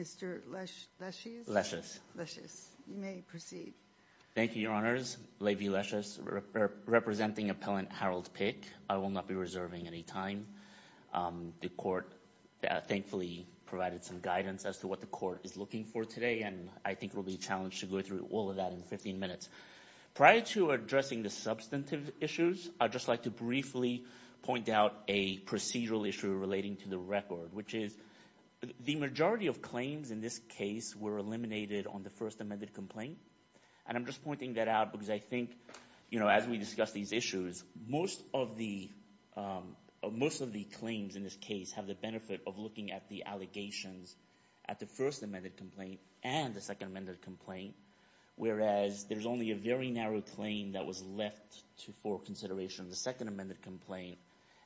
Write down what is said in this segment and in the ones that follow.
Mr. Leschies. Leschies. Leschies. You may proceed. Thank you, Your Honors. Levy Leschies, representing Appellant Harold Pick. I will not be reserving any time. The court thankfully provided some guidance as to what the court is looking for today and I think it will be a challenge to go through all of that in 15 minutes. Prior to addressing the substantive issues, I'd just like to briefly point out a procedural issue relating to the record, which is the majority of claims in this case were eliminated on the First Amended Complaint and I'm just pointing that out because I think, you know, as we discuss these issues, most of the claims in this case have the benefit of looking at the allegations at the First Amended Complaint and the Second Amended Complaint, whereas there's only a very narrow claim that was left for consideration in the Second Amended Complaint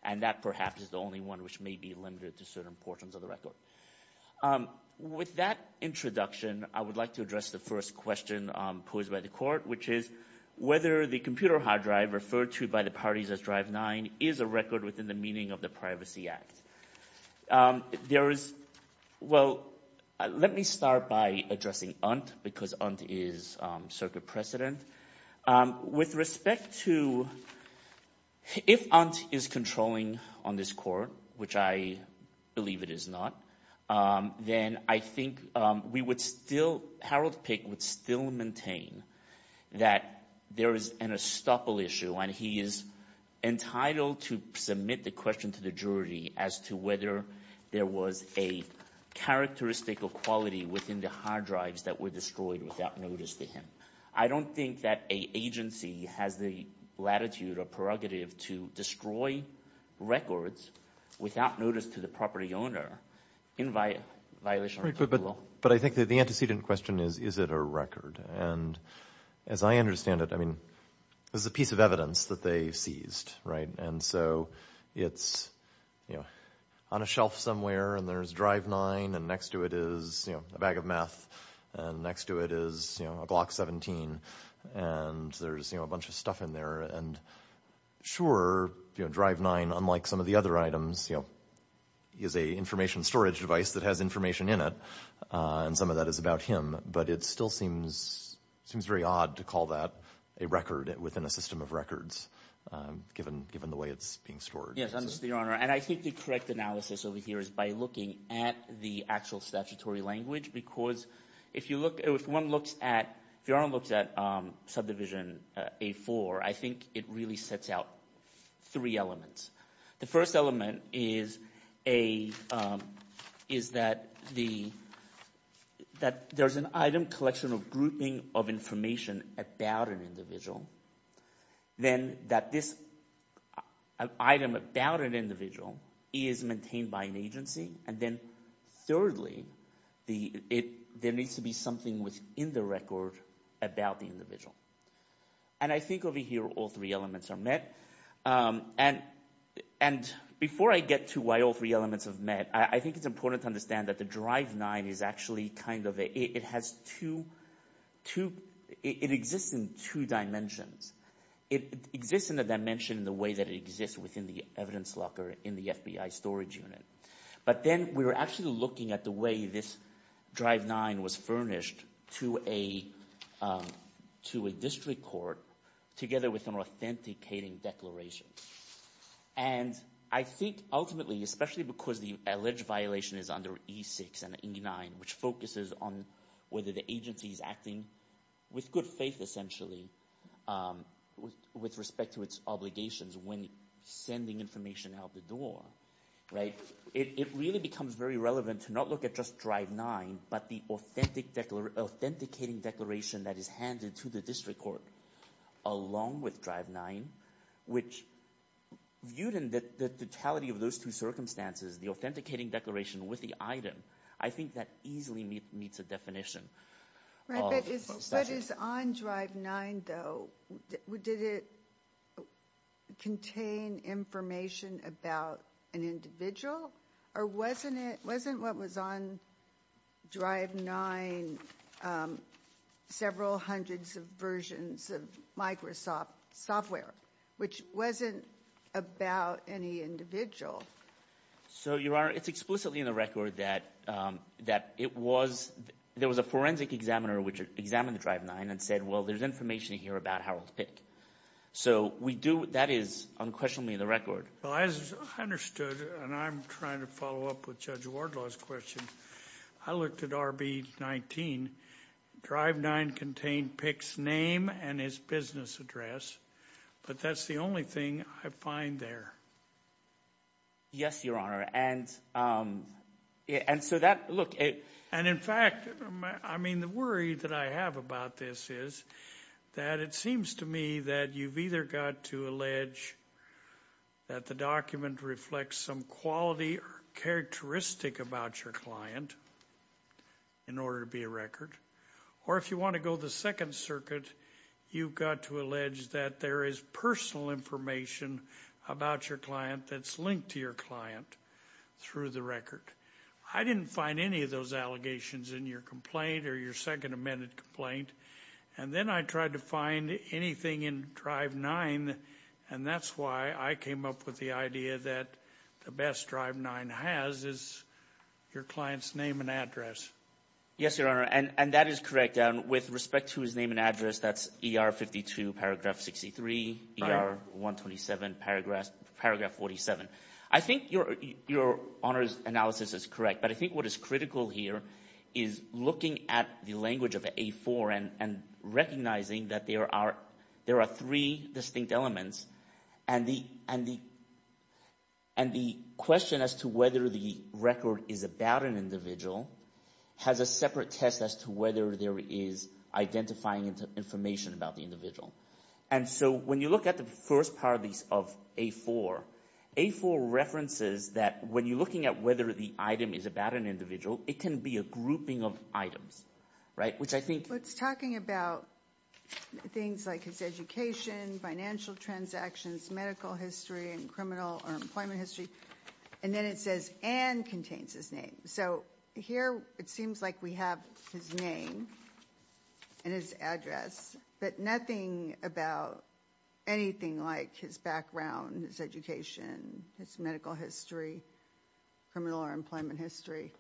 and that perhaps is the only one which may be limited to certain portions of the record. With that introduction, I would like to address the first question posed by the court, which is whether the computer hard drive referred to by the parties as Drive 9 is a record within the meaning of the Privacy Act. There is, well, let me start by addressing UNT because UNT is circuit precedent. With respect to, if UNT is controlling on this court, which I believe it is not, then I think we would still, Harold Pick would still maintain that there is an estoppel issue and he is entitled to submit the question to the jury as to whether there was a characteristic of quality within the hard drives that were destroyed without notice to him. I don't think that a agency has the latitude or prerogative to destroy records without notice to the property owner in violation of the law. But I think that the antecedent question is, is it a record? And as I understand it, I mean, this is a piece of evidence that they seized, right, and so it's, you know, on a shelf somewhere and there's Drive 9 and next to it is, you know, a bag of meth and next to it is, you know, a Glock 17 and there's, you know, a bunch of stuff in there. And sure, you know, Drive 9, unlike some of the other items, you know, is a information storage device that has information in it and some of that is about him, but it still seems very odd to call that a record within a system of records given the way it's being stored. Yes, I understand, Your Honor, and I think the correct analysis over here is by looking at the actual statutory language because if you look, if one looks at, if Your Honor looks at Subdivision A4, I think it really sets out three elements. The first element is a, is that the, that there's an item collection of grouping of information about an individual, then that this item about an individual is maintained by an agency, and then thirdly, the, it, there needs to be something within the record about the individual. And I think over here all three elements are met and, and before I get to why all three elements have met, I think it's important to understand that the Drive 9 is actually kind of a, it has two, two, it exists in two dimensions. It exists in a dimension in the way that it exists within the evidence locker in the FBI storage unit, but then we were actually looking at the way this Drive 9 was furnished to a, to a district court together with an authenticating declaration, and I think ultimately, especially because the alleged violation is under E6 and E9, which focuses on whether the agency is acting with good faith, essentially, with respect to its obligations when sending information out the door, right, it really becomes very relevant to not look at just Drive 9, but the authentic, authenticating declaration that is handed to the district court along with Drive 9, which viewed in the totality of those two circumstances, the authenticating declaration with the item, I think that easily meets a definition. Right, but what is on Drive 9, though, did it contain information about an individual, or wasn't it, wasn't what was on Drive 9 several hundreds of versions of Microsoft software, which wasn't about any individual? So, Your Honor, it's explicitly in the record that, that it was, there was a forensic examiner which examined the Drive 9 and said, well, there's information here about Harold Pick, so we do, that is unquestionably in the record. Well, as I understood, and I'm trying to follow up with Judge Wardlaw's question, I looked at RB19, Drive 9 contained Pick's name and his business address, but that's the only thing I find there. Yes, Your Honor, and, and so that, look, and in fact, I mean, the worry that I have about this is that it seems to me that you've either got to allege that the document reflects some quality or characteristic about your client in order to be a record, or if you want to go the second circuit, you've got to allege that there is personal information about your client that's linked to your client through the record. I didn't find any of those allegations in your complaint or your second amended complaint, and then I tried to find anything in Drive 9, and that's why I came up with the idea that the best Drive 9 has is your client's name and address. Yes, Your Honor, and, and that is correct, and with respect to his name and address, that's ER52 paragraph 63, ER127 paragraph, paragraph 47. I think your, your Honor's analysis is correct, but I think what is critical here is looking at the language of A4 and, and recognizing that there are, there are three distinct elements, and the, and the, and the question as to whether the record is about an individual has a separate test as to whether there is identifying information about the individual, and so when you look at the first part of these, of A4, A4 references that when you're looking at whether the item is about an individual, it can be a grouping of items, right, which I think. It's talking about things like his education, financial transactions, medical history, and criminal or employment history, and then it says and contains his name, so here it seems like we have his name and his address, but nothing about anything like his background, his education, his medical history, criminal or employment history.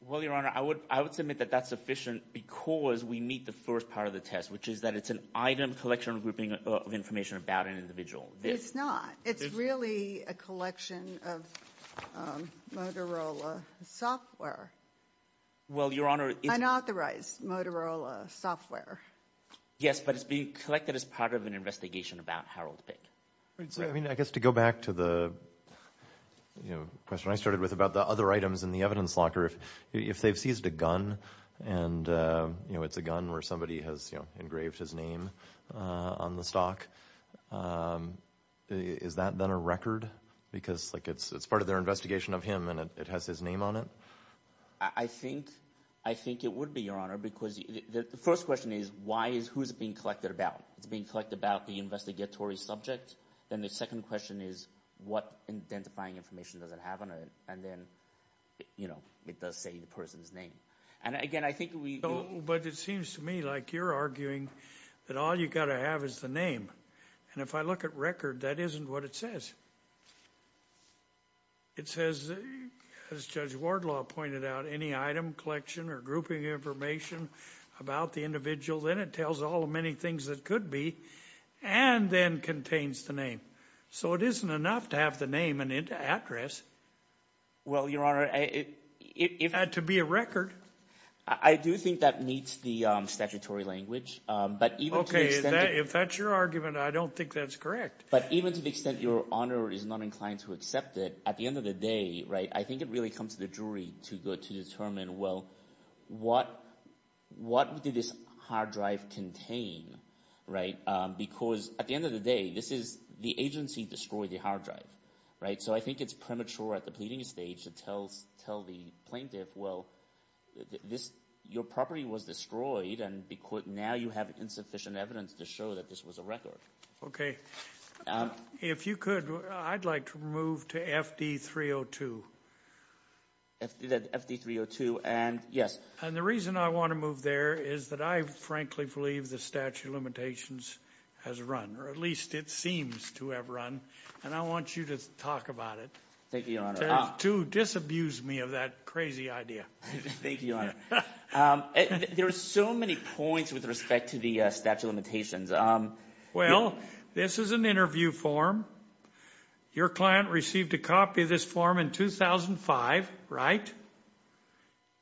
Well, Your Honor, I would, I would submit that that's sufficient because we meet the first part of the test, which is that it's an item collection grouping of information about an individual. It's not. It's really a collection of Motorola software. Well, Your Honor, it's unauthorized Motorola software. Yes, but it's being collected as part of an investigation about Harold Pick. I mean, I guess to go back to the, you know, question I started with about the other items in the evidence locker, if, if they've seized a gun and, you know, it's a gun where somebody has, you know, engraved his name on the stock, is that then a record? Because like it's, it's part of their investigation of him and it has his name on it? I think, I think it would be, Your Honor, because the first question is why is, who's it being collected about? It's being collected about the investigatory subject. Then the second question is what identifying information does it have on it? And then, you know, it does say the person's name. And again, I think we... But it seems to me like you're arguing that all you got to have is the name. And if I look at record, that isn't what it says. It says, as Judge Wardlaw pointed out, any item collection or grouping information about the individual, then it tells all the many things that could be and then contains the name. So it isn't enough to have the name and address. Well, Your Honor, it... It had to be a record. I do think that meets the statutory language, but even... Okay, if that's your argument, I don't think that's correct. But even to the extent Your Honor is not inclined to accept it, at the end of the day, right, I think it really comes to the jury to go to determine, well, what, what did this hard drive contain, right? Because at the end of the day, this is, the agency destroyed the hard drive, right? So I think it's premature at the pleading stage to tell, tell the plaintiff, well, this, your property was destroyed and because now you have insufficient evidence to show that this was a record. Okay, if you could, I'd like to move to FD 302. FD 302 and, yes. And the reason I want to move there is that I frankly believe the statute of limitations has run, or at least it seems to have run, and I want you to talk about it. Thank you, Your Honor. To disabuse me of that crazy idea. Thank you, Your Honor. There are so many points with respect to the statute of limitations. Well, this is an interview form. Your client received a copy of this form in 2005, right?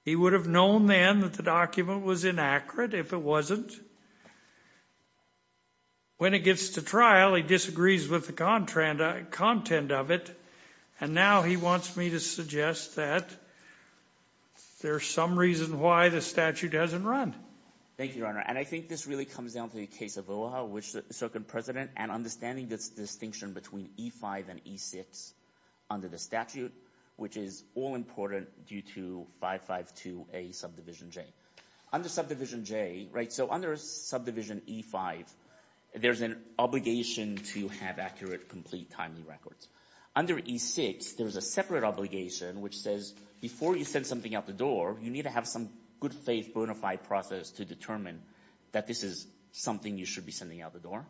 He would have known then that the document was inaccurate if it wasn't. When it gets to trial, he disagrees with the content of it, and now he wants me to suggest that there's some reason why the statute hasn't run. Thank you, Your Honor, and I think this really comes down to the case of OHA, which the so-called president, and understanding this distinction between E-5 and E-6 under the statute, which is all important due to 552A subdivision J. Under subdivision J, right, so under subdivision E-5, there's an obligation to have accurate, complete, timely records. Under E-6, there's a separate obligation which says before you send something out the door, you need to have some good-faith bona fide process to determine that this is something you should be sending out the door.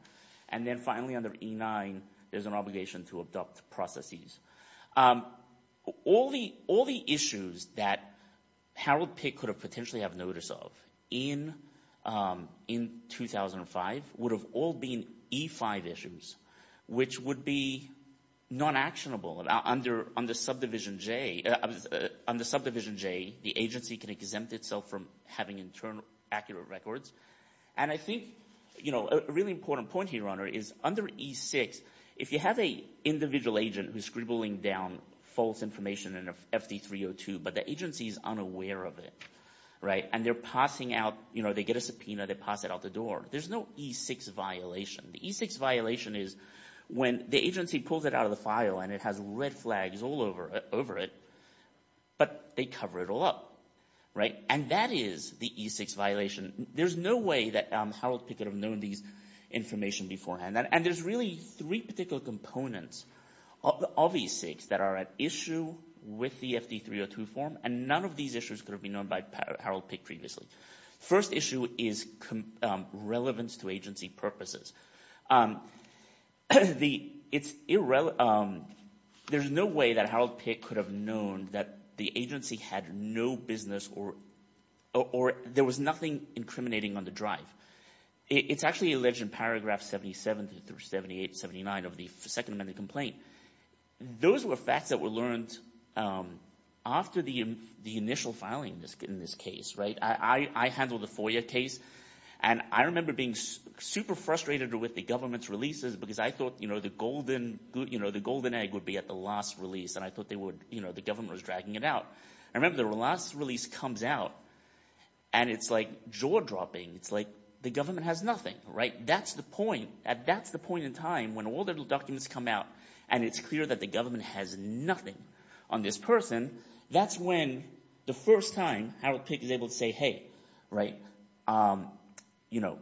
And then finally, under E-9, there's an obligation to adopt processes. All the issues that Harold Pitt could have potentially have notice of in 2005 would have all been E-5 issues, which would be non-actionable. Under subdivision J, the agency can exempt itself from having, in turn, accurate records. And I think, you know, a really important point here, Your Honor, is under E-6, if you have an individual agent who's scribbling down false information in a FD-302, but the agency's unaware of it, right, and they're passing out, you know, they get a subpoena, they pass it out the door, there's no E-6 violation. The E-6 violation is when the agency pulls it out of the file and it has red flags all over it, but they cover it all up, right? And that is the E-6 violation. There's no way that Harold Pitt could have known these information beforehand. And there's really three particular components of the E-6 that are at issue with the FD-302 form, and none of these issues could have been known by Harold Pitt previously. First issue is relevance to agency purposes. There's no way that Harold Pitt could have known that the agency had no business or there was nothing incriminating on the drive. It's actually alleged in paragraph 77 through 78, 79 of the Second Amendment complaint. Those were facts that were learned after the initial filing in this case, right? I handled the FOIA case, and I remember being super frustrated with the government's releases because I thought, you know, the golden egg would be at the last release, and I thought they would, you know, the government was dragging it out. I remember the last release comes out, and it's like jaw-dropping. It's like the government has nothing, right? That's the point. That's the point in time when all the documents come out, and it's clear that the government has nothing on this person. That's when the first time Harold Pitt is able to say, hey, right, you know,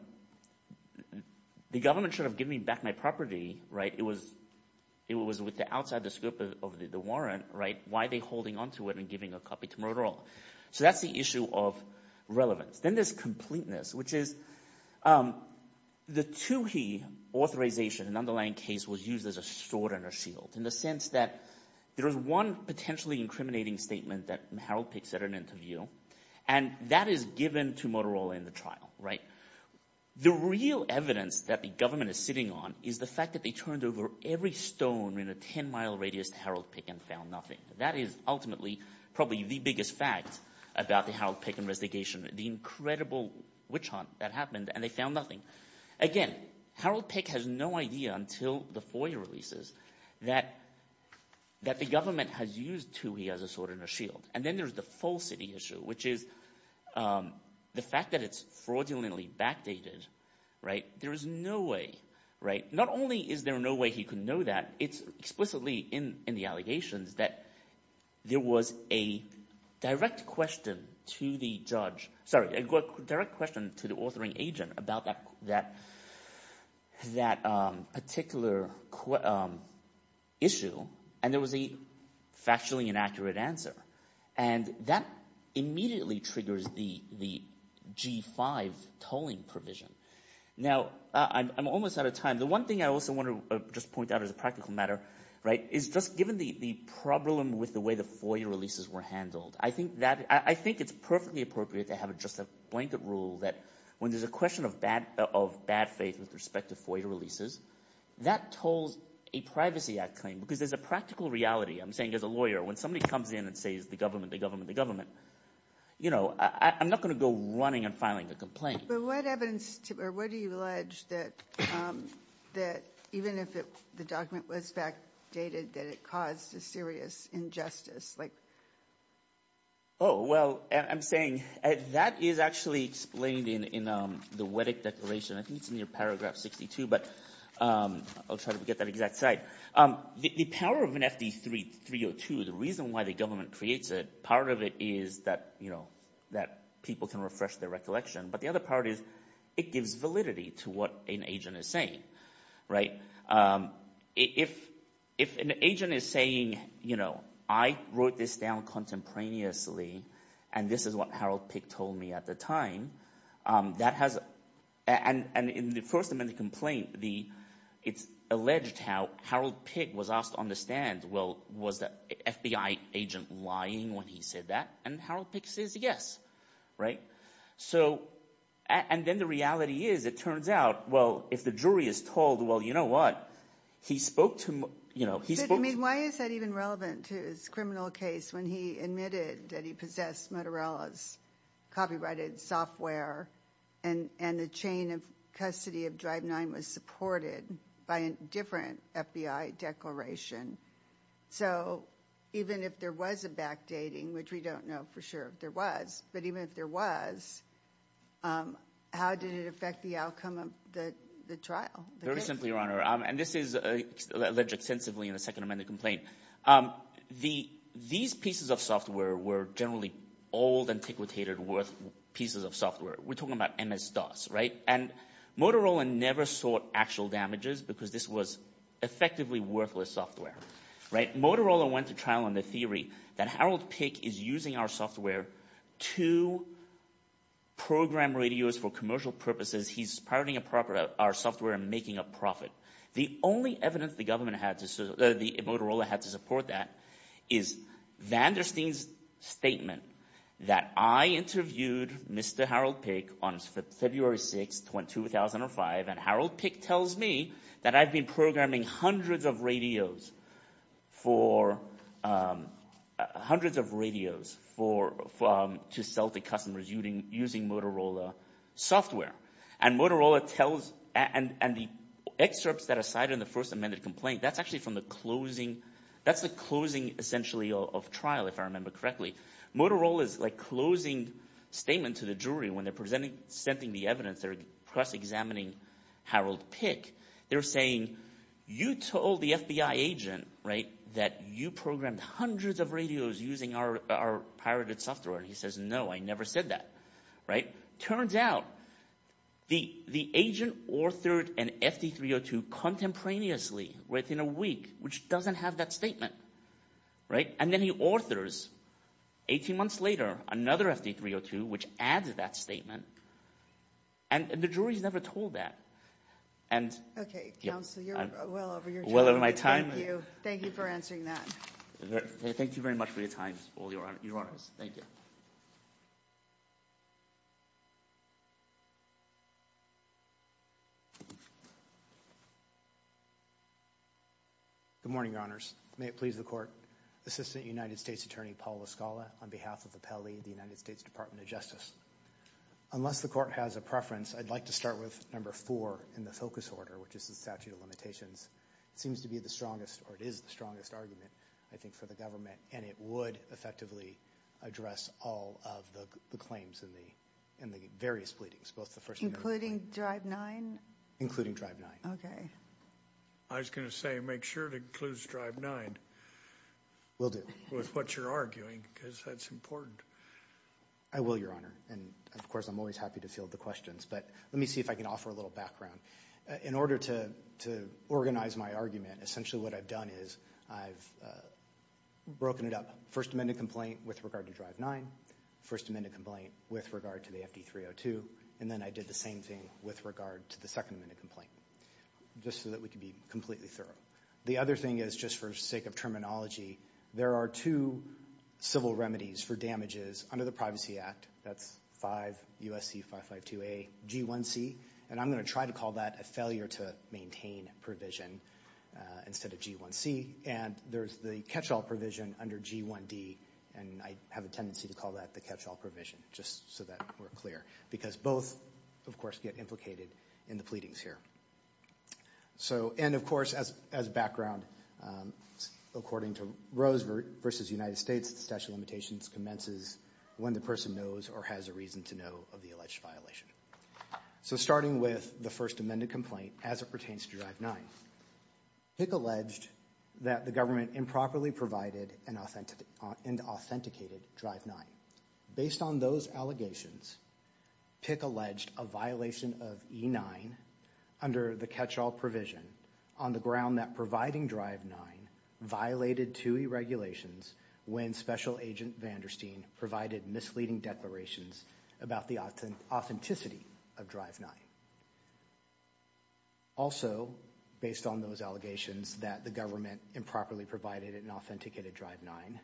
the government should have given me back my property, right? It was with the outside the scope of the warrant, right? Why are they holding onto it and giving a copy to Motorola? So that's the issue of relevance. Then there's completeness, which is the TUHI authorization, an underlying case, was used as a sword and a shield in the sense that there was one potentially incriminating statement that Harold Pitt said in an interview, and that is given to Motorola in the trial, right? The real evidence that the government is sitting on is the fact that they turned over every stone in a 10-mile radius to Harold Pitt and found nothing. That is ultimately probably the biggest fact about the Harold Pitt investigation, the incredible witch hunt that happened, and they found nothing. Again, Harold Pitt has no idea until the FOIA releases that the government has used TUHI as a sword and a shield. And then there's the falsity issue, which is the fact that it's fraudulently backdated, right? There is no way, right? Not only is there no way he could know that, it's explicitly in the allegations that there was a direct question to the judge, sorry, a direct question to the authoring agent about that particular issue, and there was a factually inaccurate answer. And that immediately triggers the G5 tolling provision. Now I'm almost out of time. The one thing I also want to just point out as a practical matter, right, is just given the problem with the way the FOIA releases were handled, I think it's perfectly appropriate to have just a blanket rule that when there's a question of bad faith with respect to FOIA releases, that tolls a Privacy Act claim. Because there's a practical reality, I'm saying as a lawyer, when somebody comes in and says the government, the government, the government, you know, I'm not going to go running and filing a complaint. But what evidence, or what do you allege that even if the document was backdated, that it caused a serious injustice, like? Oh, well, I'm saying, that is actually explained in the Weddick Declaration, I think it's in your paragraph 62, but I'll try to get that exact site. The power of an FD302, the reason why the government creates it, part of it is that, you know, that people can refresh their recollection, but the other part is, it gives validity to what an agent is saying. If an agent is saying, you know, I wrote this down contemporaneously, and this is what Harold Pick told me at the time, that has, and in the first amendment complaint, it's alleged how Harold Pick was asked to understand, well, was the FBI agent lying when he said that? And Harold Pick says, yes, right? So, and then the reality is, it turns out, well, if the jury is told, well, you know what, he spoke to, you know, he spoke to... But I mean, why is that even relevant to his criminal case when he admitted that he possessed Motorella's copyrighted software, and the chain of custody of Drive 9 was supported by a different FBI declaration? So, even if there was a backdating, which we don't know for sure if there was, but even if there was, how did it affect the outcome of the trial? Very simply, Your Honor, and this is alleged extensively in the second amendment complaint. These pieces of software were generally old, antiquated, worthless pieces of software. We're talking about MS-DOS, right? And Motorella never sought actual damages because this was effectively worthless software, right? Motorella went to trial on the theory that Harold Pick is using our software to program radios for commercial purposes. He's pirating our software and making a profit. The only evidence the government had to, the Motorella had to support that is Vandersteen's statement that I interviewed Mr. Harold Pick on February 6, 2005, and Harold Pick tells me that I've been programming hundreds of radios to sell to customers using Motorella software. And the excerpts that are cited in the first amendment complaint, that's actually from the closing, that's the closing essentially of trial, if I remember correctly. Motorella's closing statement to the jury when they're presenting the evidence, they're press examining Harold Pick, they're saying, you told the FBI agent, right, that you programmed hundreds of radios using our pirated software. And he says, no, I never said that, right? Turns out the agent authored an FD302 contemporaneously within a week, which doesn't have that statement, right? And then he authors, 18 months later, another FD302, which adds that statement, and the jury's never told that. And okay, counsel, you're well over your time, thank you. Thank you for answering that. Thank you very much for your time, all your honors. Thank you. Good morning, your honors. May it please the court. Assistant United States Attorney, Paul La Scala, on behalf of the Pelley, the United States Department of Justice. Unless the court has a preference, I'd like to start with number four in the focus order, which is the statute of limitations. It seems to be the strongest, or it is the strongest argument, I think, for the government, and it would effectively address all of the claims in the various pleadings, both the first and the second. Including drive nine? Including drive nine. Okay. I was going to say, make sure it includes drive nine. Will do. With what you're arguing, because that's important. I will, your honor. And of course, I'm always happy to field the questions, but let me see if I can offer a little background. In order to organize my argument, essentially what I've done is I've broken it up. First amended complaint with regard to drive nine, first amended complaint with regard to the FD302, and then I did the same thing with regard to the second amended complaint, just so that we can be completely thorough. The other thing is, just for sake of terminology, there are two civil remedies for damages under the Privacy Act. That's 5 U.S.C. 552A G1C, and I'm going to try to call that a failure to maintain provision instead of G1C. And there's the catch-all provision under G1D, and I have a tendency to call that the catch-all provision, just so that we're clear. Because both, of course, get implicated in the pleadings here. And of course, as background, according to Rose v. United States, the statute of limitations commences when the person knows or has a reason to know of the alleged violation. So starting with the first amended complaint as it pertains to drive nine, PICC alleged that the government improperly provided and authenticated drive nine. Based on those allegations, PICC alleged a violation of E9 under the catch-all provision on the ground that providing drive nine violated two E regulations when Special Agent Vandersteen provided misleading declarations about the authenticity of drive nine. Also, based on those allegations that the government improperly provided and authenticated drive nine,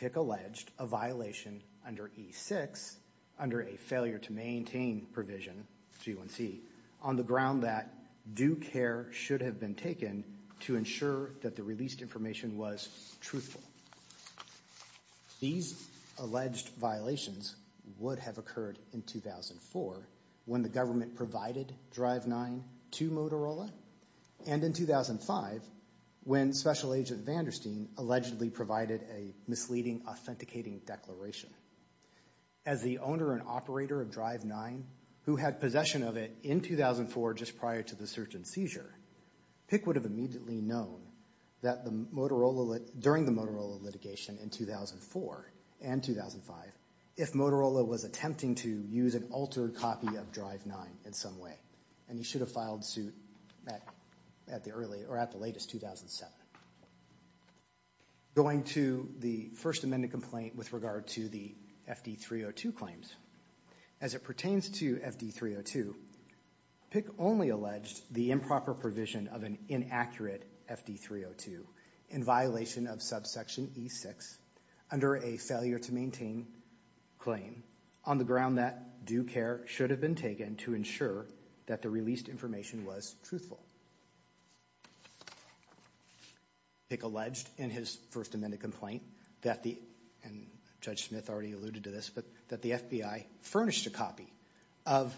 PICC alleged a violation under E6 under a failure to maintain provision, G1C, on the ground that due care should have been taken to ensure that the released information was truthful. These alleged violations were not would have occurred in 2004, when the government provided drive nine to Motorola, and in 2005, when Special Agent Vandersteen allegedly provided a misleading authenticating declaration. As the owner and operator of drive nine, who had possession of it in 2004, just prior to the search and seizure, PICC would have immediately known that during the Motorola litigation in 2004 and 2005, if Motorola was attempting to use an altered copy of drive nine in some way, and he should have filed suit at the latest, 2007. Going to the First Amendment complaint with regard to the FD-302 claims, as it pertains to FD-302, PICC only alleged the improper provision of an inaccurate FD-302 in violation of subsection E6 under a failure to maintain claim on the ground that due care should have been taken to ensure that the released information was truthful. PICC alleged in his First Amendment complaint that the, and Judge Smith already alluded to this, but that the FBI furnished a copy of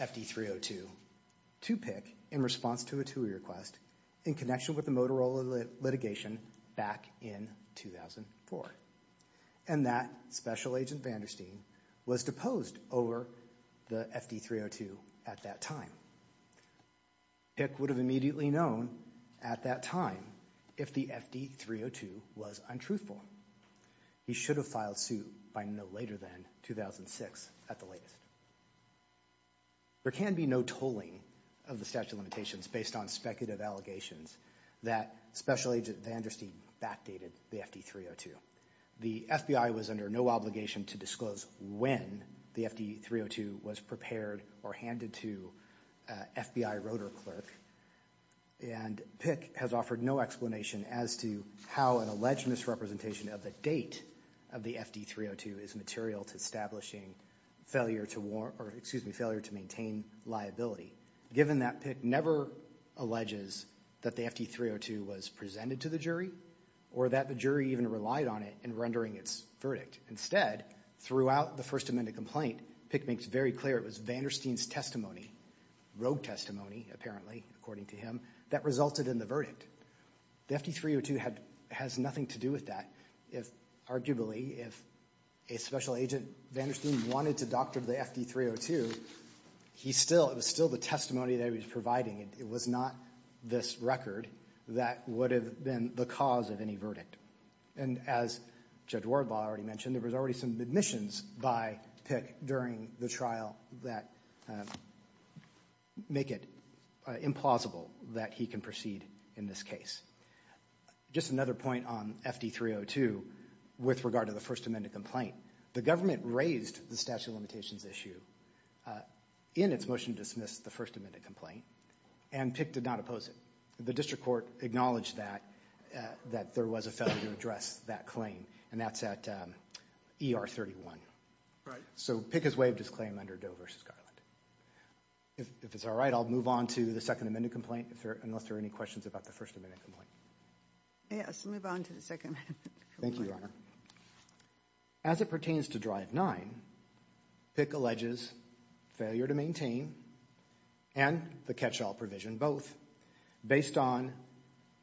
FD-302 to PICC in response to a TUI request in connection with the Motorola litigation back in 2004. And that Special Agent Vandersteen was deposed over the FD-302 at that time. PICC would have immediately known at that time if the FD-302 was untruthful. He should have filed suit by no later than 2006 at the latest. There can be no tolling of the statute of limitations based on speculative allegations that Special Agent Vandersteen backdated the FD-302. The FBI was under no obligation to disclose when the FD-302 was prepared or handed to FBI rotor clerk, and PICC has offered no explanation as to how an alleged misrepresentation of a date of the FD-302 is material to establishing failure to maintain liability. Given that PICC never alleges that the FD-302 was presented to the jury, or that the jury even relied on it in rendering its verdict. Instead, throughout the First Amendment complaint, PICC makes very clear it was Vandersteen's testimony, rogue testimony, apparently, according to him, that resulted in the verdict. The FD-302 has nothing to do with that. Arguably, if a Special Agent Vandersteen wanted to doctor the FD-302, he still, it was still the testimony that he was providing. It was not this record that would have been the cause of any verdict. And as Judge Wardlaw already mentioned, there was already some admissions by PICC during the trial that make it implausible that he can proceed in this case. Just another point on FD-302 with regard to the First Amendment complaint. The government raised the statute of limitations issue in its motion to dismiss the First Amendment complaint, and PICC did not oppose it. The district court acknowledged that, that there was a failure to address that claim, and that's at ER-31. Right. So PICC has waived its claim under Doe v. Garland. If it's all right, I'll move on to the Second Amendment complaint, unless there are any questions about the First Amendment complaint. Yes, we'll move on to the Second Amendment complaint. Thank you, Your Honor. As it pertains to Drive 9, PICC alleges failure to maintain and the catch-all provision both, based on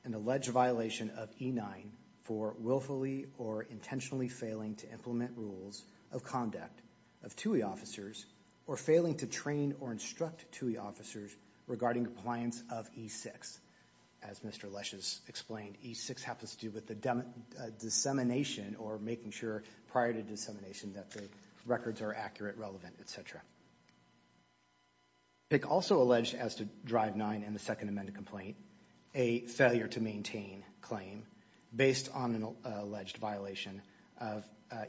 an alleged violation of E-9 for willfully or intentionally failing to implement rules of conduct of TUI officers, or failing to train or instruct TUI officers regarding compliance of E-6. As Mr. Lesh has explained, E-6 has to do with the dissemination or making sure prior to dissemination that the records are accurate, relevant, etc. PICC also alleged as to Drive 9 in the Second Amendment complaint, a failure to maintain claim based on an alleged violation of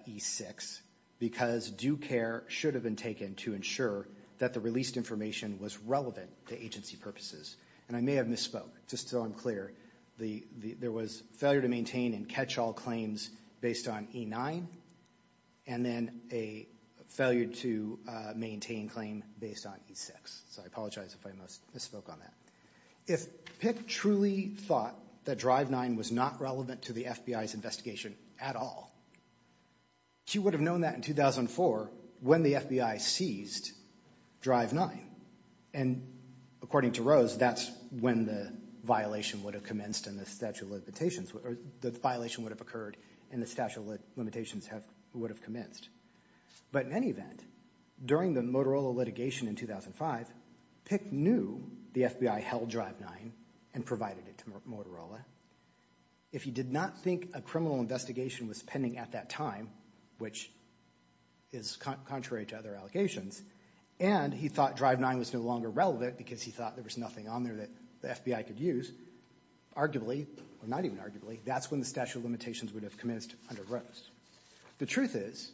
E-6, because due care should have been taken to ensure that the released information was relevant to agency purposes. And I may have misspoke, just so I'm clear. There was failure to maintain and catch-all claims based on E-9, and then a failure to maintain claim based on E-6, so I apologize if I misspoke on that. If PICC truly thought that Drive 9 was not relevant to the FBI's investigation at all, she would have known that in 2004 when the FBI seized Drive 9, and according to Rose, that's when the violation would have commenced and the statute of limitations, or the violation would have occurred and the statute of limitations would have commenced. But in any event, during the Motorola litigation in 2005, PICC knew the FBI held Drive 9 and provided it to Motorola. If he did not think a criminal investigation was pending at that time, which is contrary to other allegations, and he thought Drive 9 was no longer relevant because he thought there was nothing on there that the FBI could use, arguably, or not even arguably, that's when the statute of limitations would have commenced under Rose. The truth is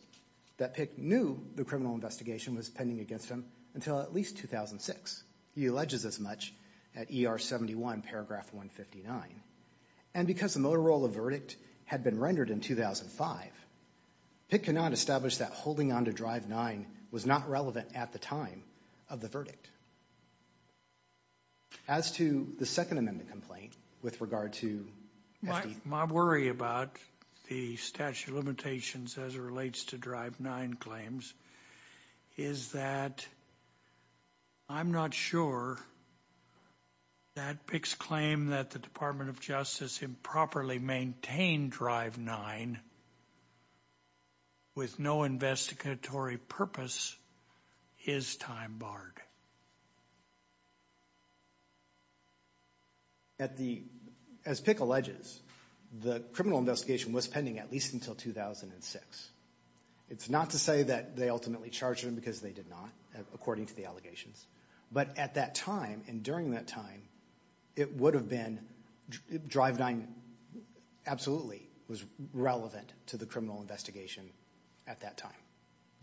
that PICC knew the criminal investigation was pending against him until at least 2006. He alleges as much at ER 71, paragraph 159. And because the Motorola verdict had been rendered in 2005, PICC could not establish that holding on to Drive 9 was not relevant at the time of the verdict. As to the Second Amendment complaint with regard to FD. My worry about the statute of limitations as it relates to Drive 9 claims is that I'm not sure that PICC's claim that the Department of Justice improperly maintained Drive 9 with no investigatory purpose is time-barred. At the, as PICC alleges, the criminal investigation was pending at least until 2006. It's not to say that they ultimately charged him because they did not, according to the But at that time, and during that time, it would have been, Drive 9 absolutely was relevant to the criminal investigation at that time.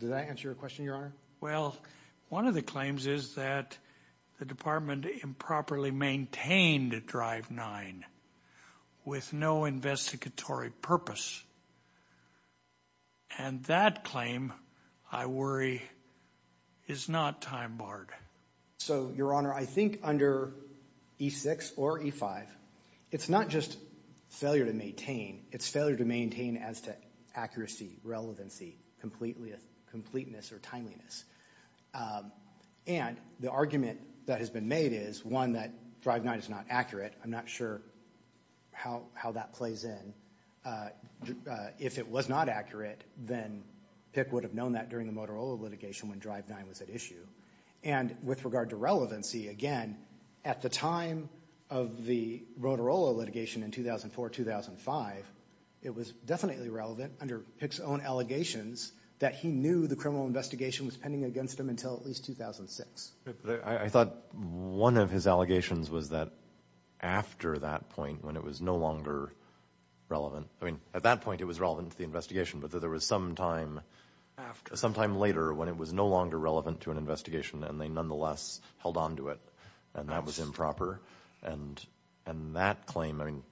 Does that answer your question, Your Honor? Well, one of the claims is that the department improperly maintained Drive 9 with no investigatory purpose. And that claim, I worry, is not time-barred. So Your Honor, I think under E6 or E5, it's not just failure to maintain. It's failure to maintain as to accuracy, relevancy, completeness, or timeliness. And the argument that has been made is, one, that Drive 9 is not accurate. I'm not sure how that plays in. If it was not accurate, then PICC would have known that during the Motorola litigation when Drive 9 was at issue. And with regard to relevancy, again, at the time of the Motorola litigation in 2004-2005, it was definitely relevant under PICC's own allegations that he knew the criminal investigation was pending against him until at least 2006. I thought one of his allegations was that after that point, when it was no longer relevant, I mean, at that point, it was relevant to the investigation, but that there was some time later when it was no longer relevant to an investigation and they nonetheless held on to it, and that was improper. And that claim, I mean,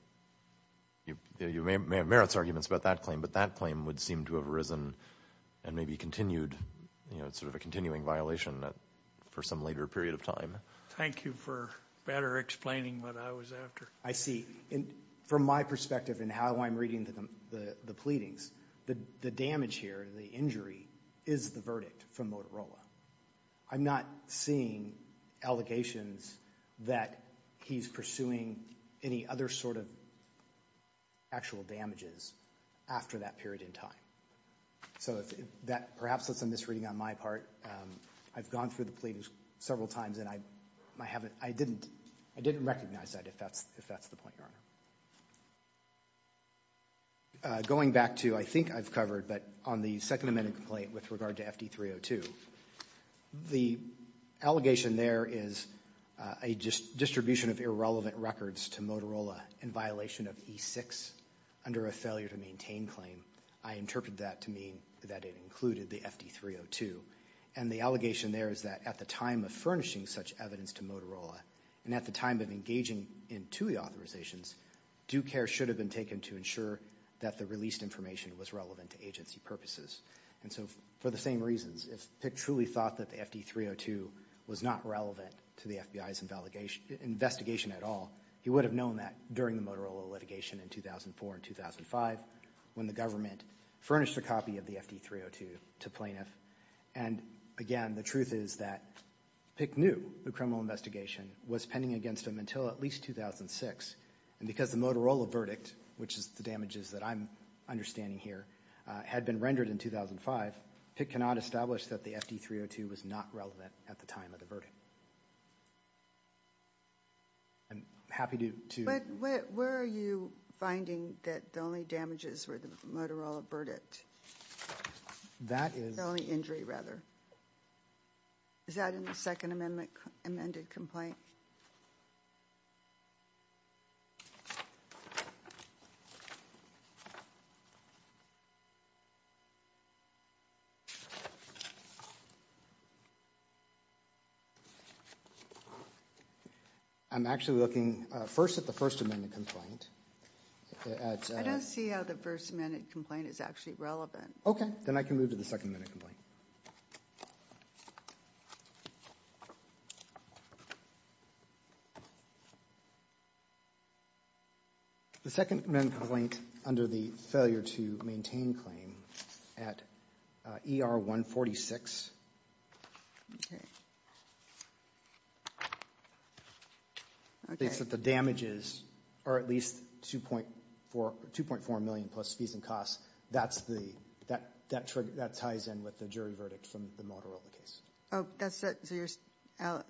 you may have merits arguments about that claim, but that claim would seem to have arisen and maybe continued, you know, sort of a continuing violation for some later period of time. Thank you for better explaining what I was after. I see, from my perspective and how I'm reading the pleadings, the damage here, the injury, is the verdict from Motorola. I'm not seeing allegations that he's pursuing any other sort of actual damages after that period in time. So that perhaps was a misreading on my part. I've gone through the pleadings several times and I haven't, I didn't, I didn't recognize that if that's the point, Your Honor. Going back to, I think I've covered, but on the Second Amendment complaint with regard to FD-302, the allegation there is a distribution of irrelevant records to Motorola in violation of E-6 under a failure to maintain claim. I interpreted that to mean that it included the FD-302. And the allegation there is that at the time of furnishing such evidence to Motorola and at the time of engaging in TUI authorizations, due care should have been taken to ensure that the released information was relevant to agency purposes. And so for the same reasons, if Pick truly thought that the FD-302 was not relevant to the FBI's investigation at all, he would have known that during the Motorola litigation in 2004 and 2005 when the government furnished a copy of the FD-302 to plaintiff. And again, the truth is that Pick knew the criminal investigation was pending against him until at least 2006, and because the Motorola verdict, which is the damages that I'm understanding here, had been rendered in 2005, Pick cannot establish that the FD-302 was not relevant at the time of the verdict. I'm happy to... But where are you finding that the only damages were the Motorola verdict? That is... The only injury, rather. Is that in the second amendment, amended complaint? I'm actually looking first at the first amendment complaint. I don't see how the first amendment complaint is actually relevant. Okay. Then I can move to the second amendment complaint. The second amendment complaint under the failure to maintain claim at ER-146 states that the damages are at least $2.4 million plus fees and costs. That's the... That ties in with the jury verdict from the Motorola case. Oh, that's... So you're...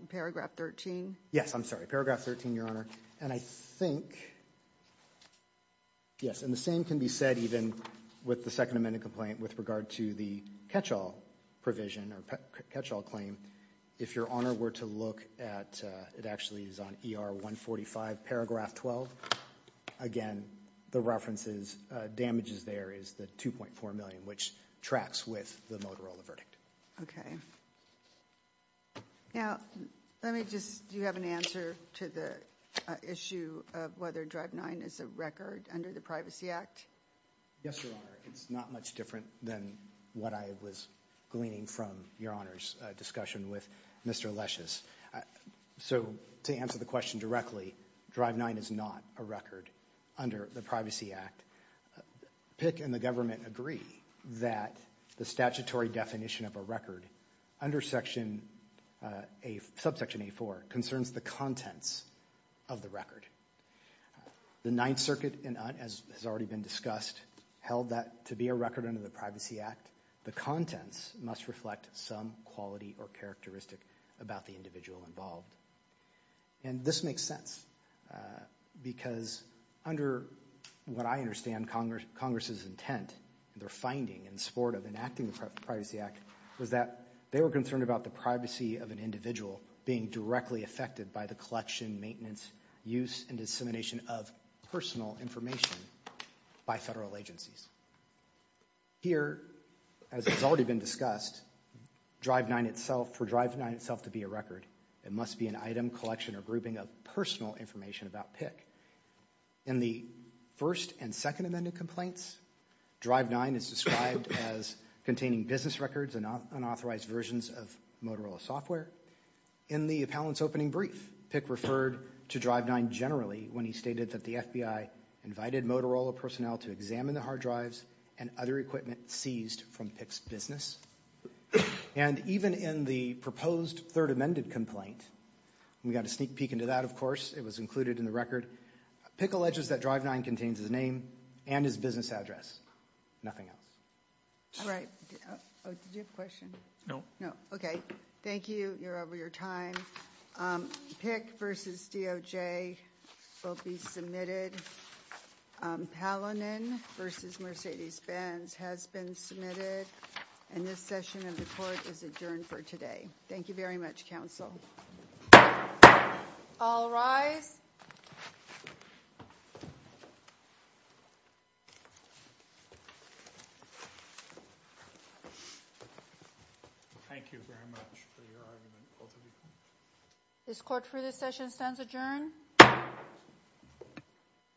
Paragraph 13? Yes. I'm sorry. Paragraph 13, Your Honor. And I think... Yes. And the same can be said even with the second amendment complaint with regard to the catch-all provision or catch-all claim. If Your Honor were to look at... It actually is on ER-145, paragraph 12. Again, the references damages there is the $2.4 million, which tracks with the Motorola verdict. Okay. Now, let me just... Do you have an answer to the issue of whether Drive 9 is a record under the Privacy Act? Yes, Your Honor. It's not much different than what I was gleaning from Your Honor's discussion with Mr. Lesch's. So to answer the question directly, Drive 9 is not a record under the Privacy Act. PIC and the government agree that the statutory definition of a record under Section A... Subsection A-4 concerns the contents of the record. The Ninth Circuit, as has already been discussed, held that to be a record under the Privacy Act, the contents must reflect some quality or characteristic about the individual involved. And this makes sense because under what I understand Congress's intent, their finding in support of enacting the Privacy Act, was that they were concerned about the privacy of an individual being directly affected by the collection, maintenance, use, and dissemination of personal information by federal agencies. Here, as has already been discussed, Drive 9 itself, for Drive 9 itself to be a record, it must be an item, collection, or grouping of personal information about PIC. In the first and second amended complaints, Drive 9 is described as containing business records and unauthorized versions of Motorola software. In the appellant's opening brief, PIC referred to Drive 9 generally when he stated that the FBI invited Motorola personnel to examine the hard drives and other equipment seized from PIC's business. And even in the proposed third amended complaint, we got a sneak peek into that, of course, it was included in the record, PIC alleges that Drive 9 contains his name and his business address, nothing else. All right, did you have a question? No. No, okay. Thank you, you're over your time. PIC versus DOJ will be submitted, Palanin versus Mercedes-Benz has been submitted, and this session of the court is adjourned for today. Thank you very much, counsel. All rise. Thank you very much for your argument, both of you. This court for this session stands adjourned.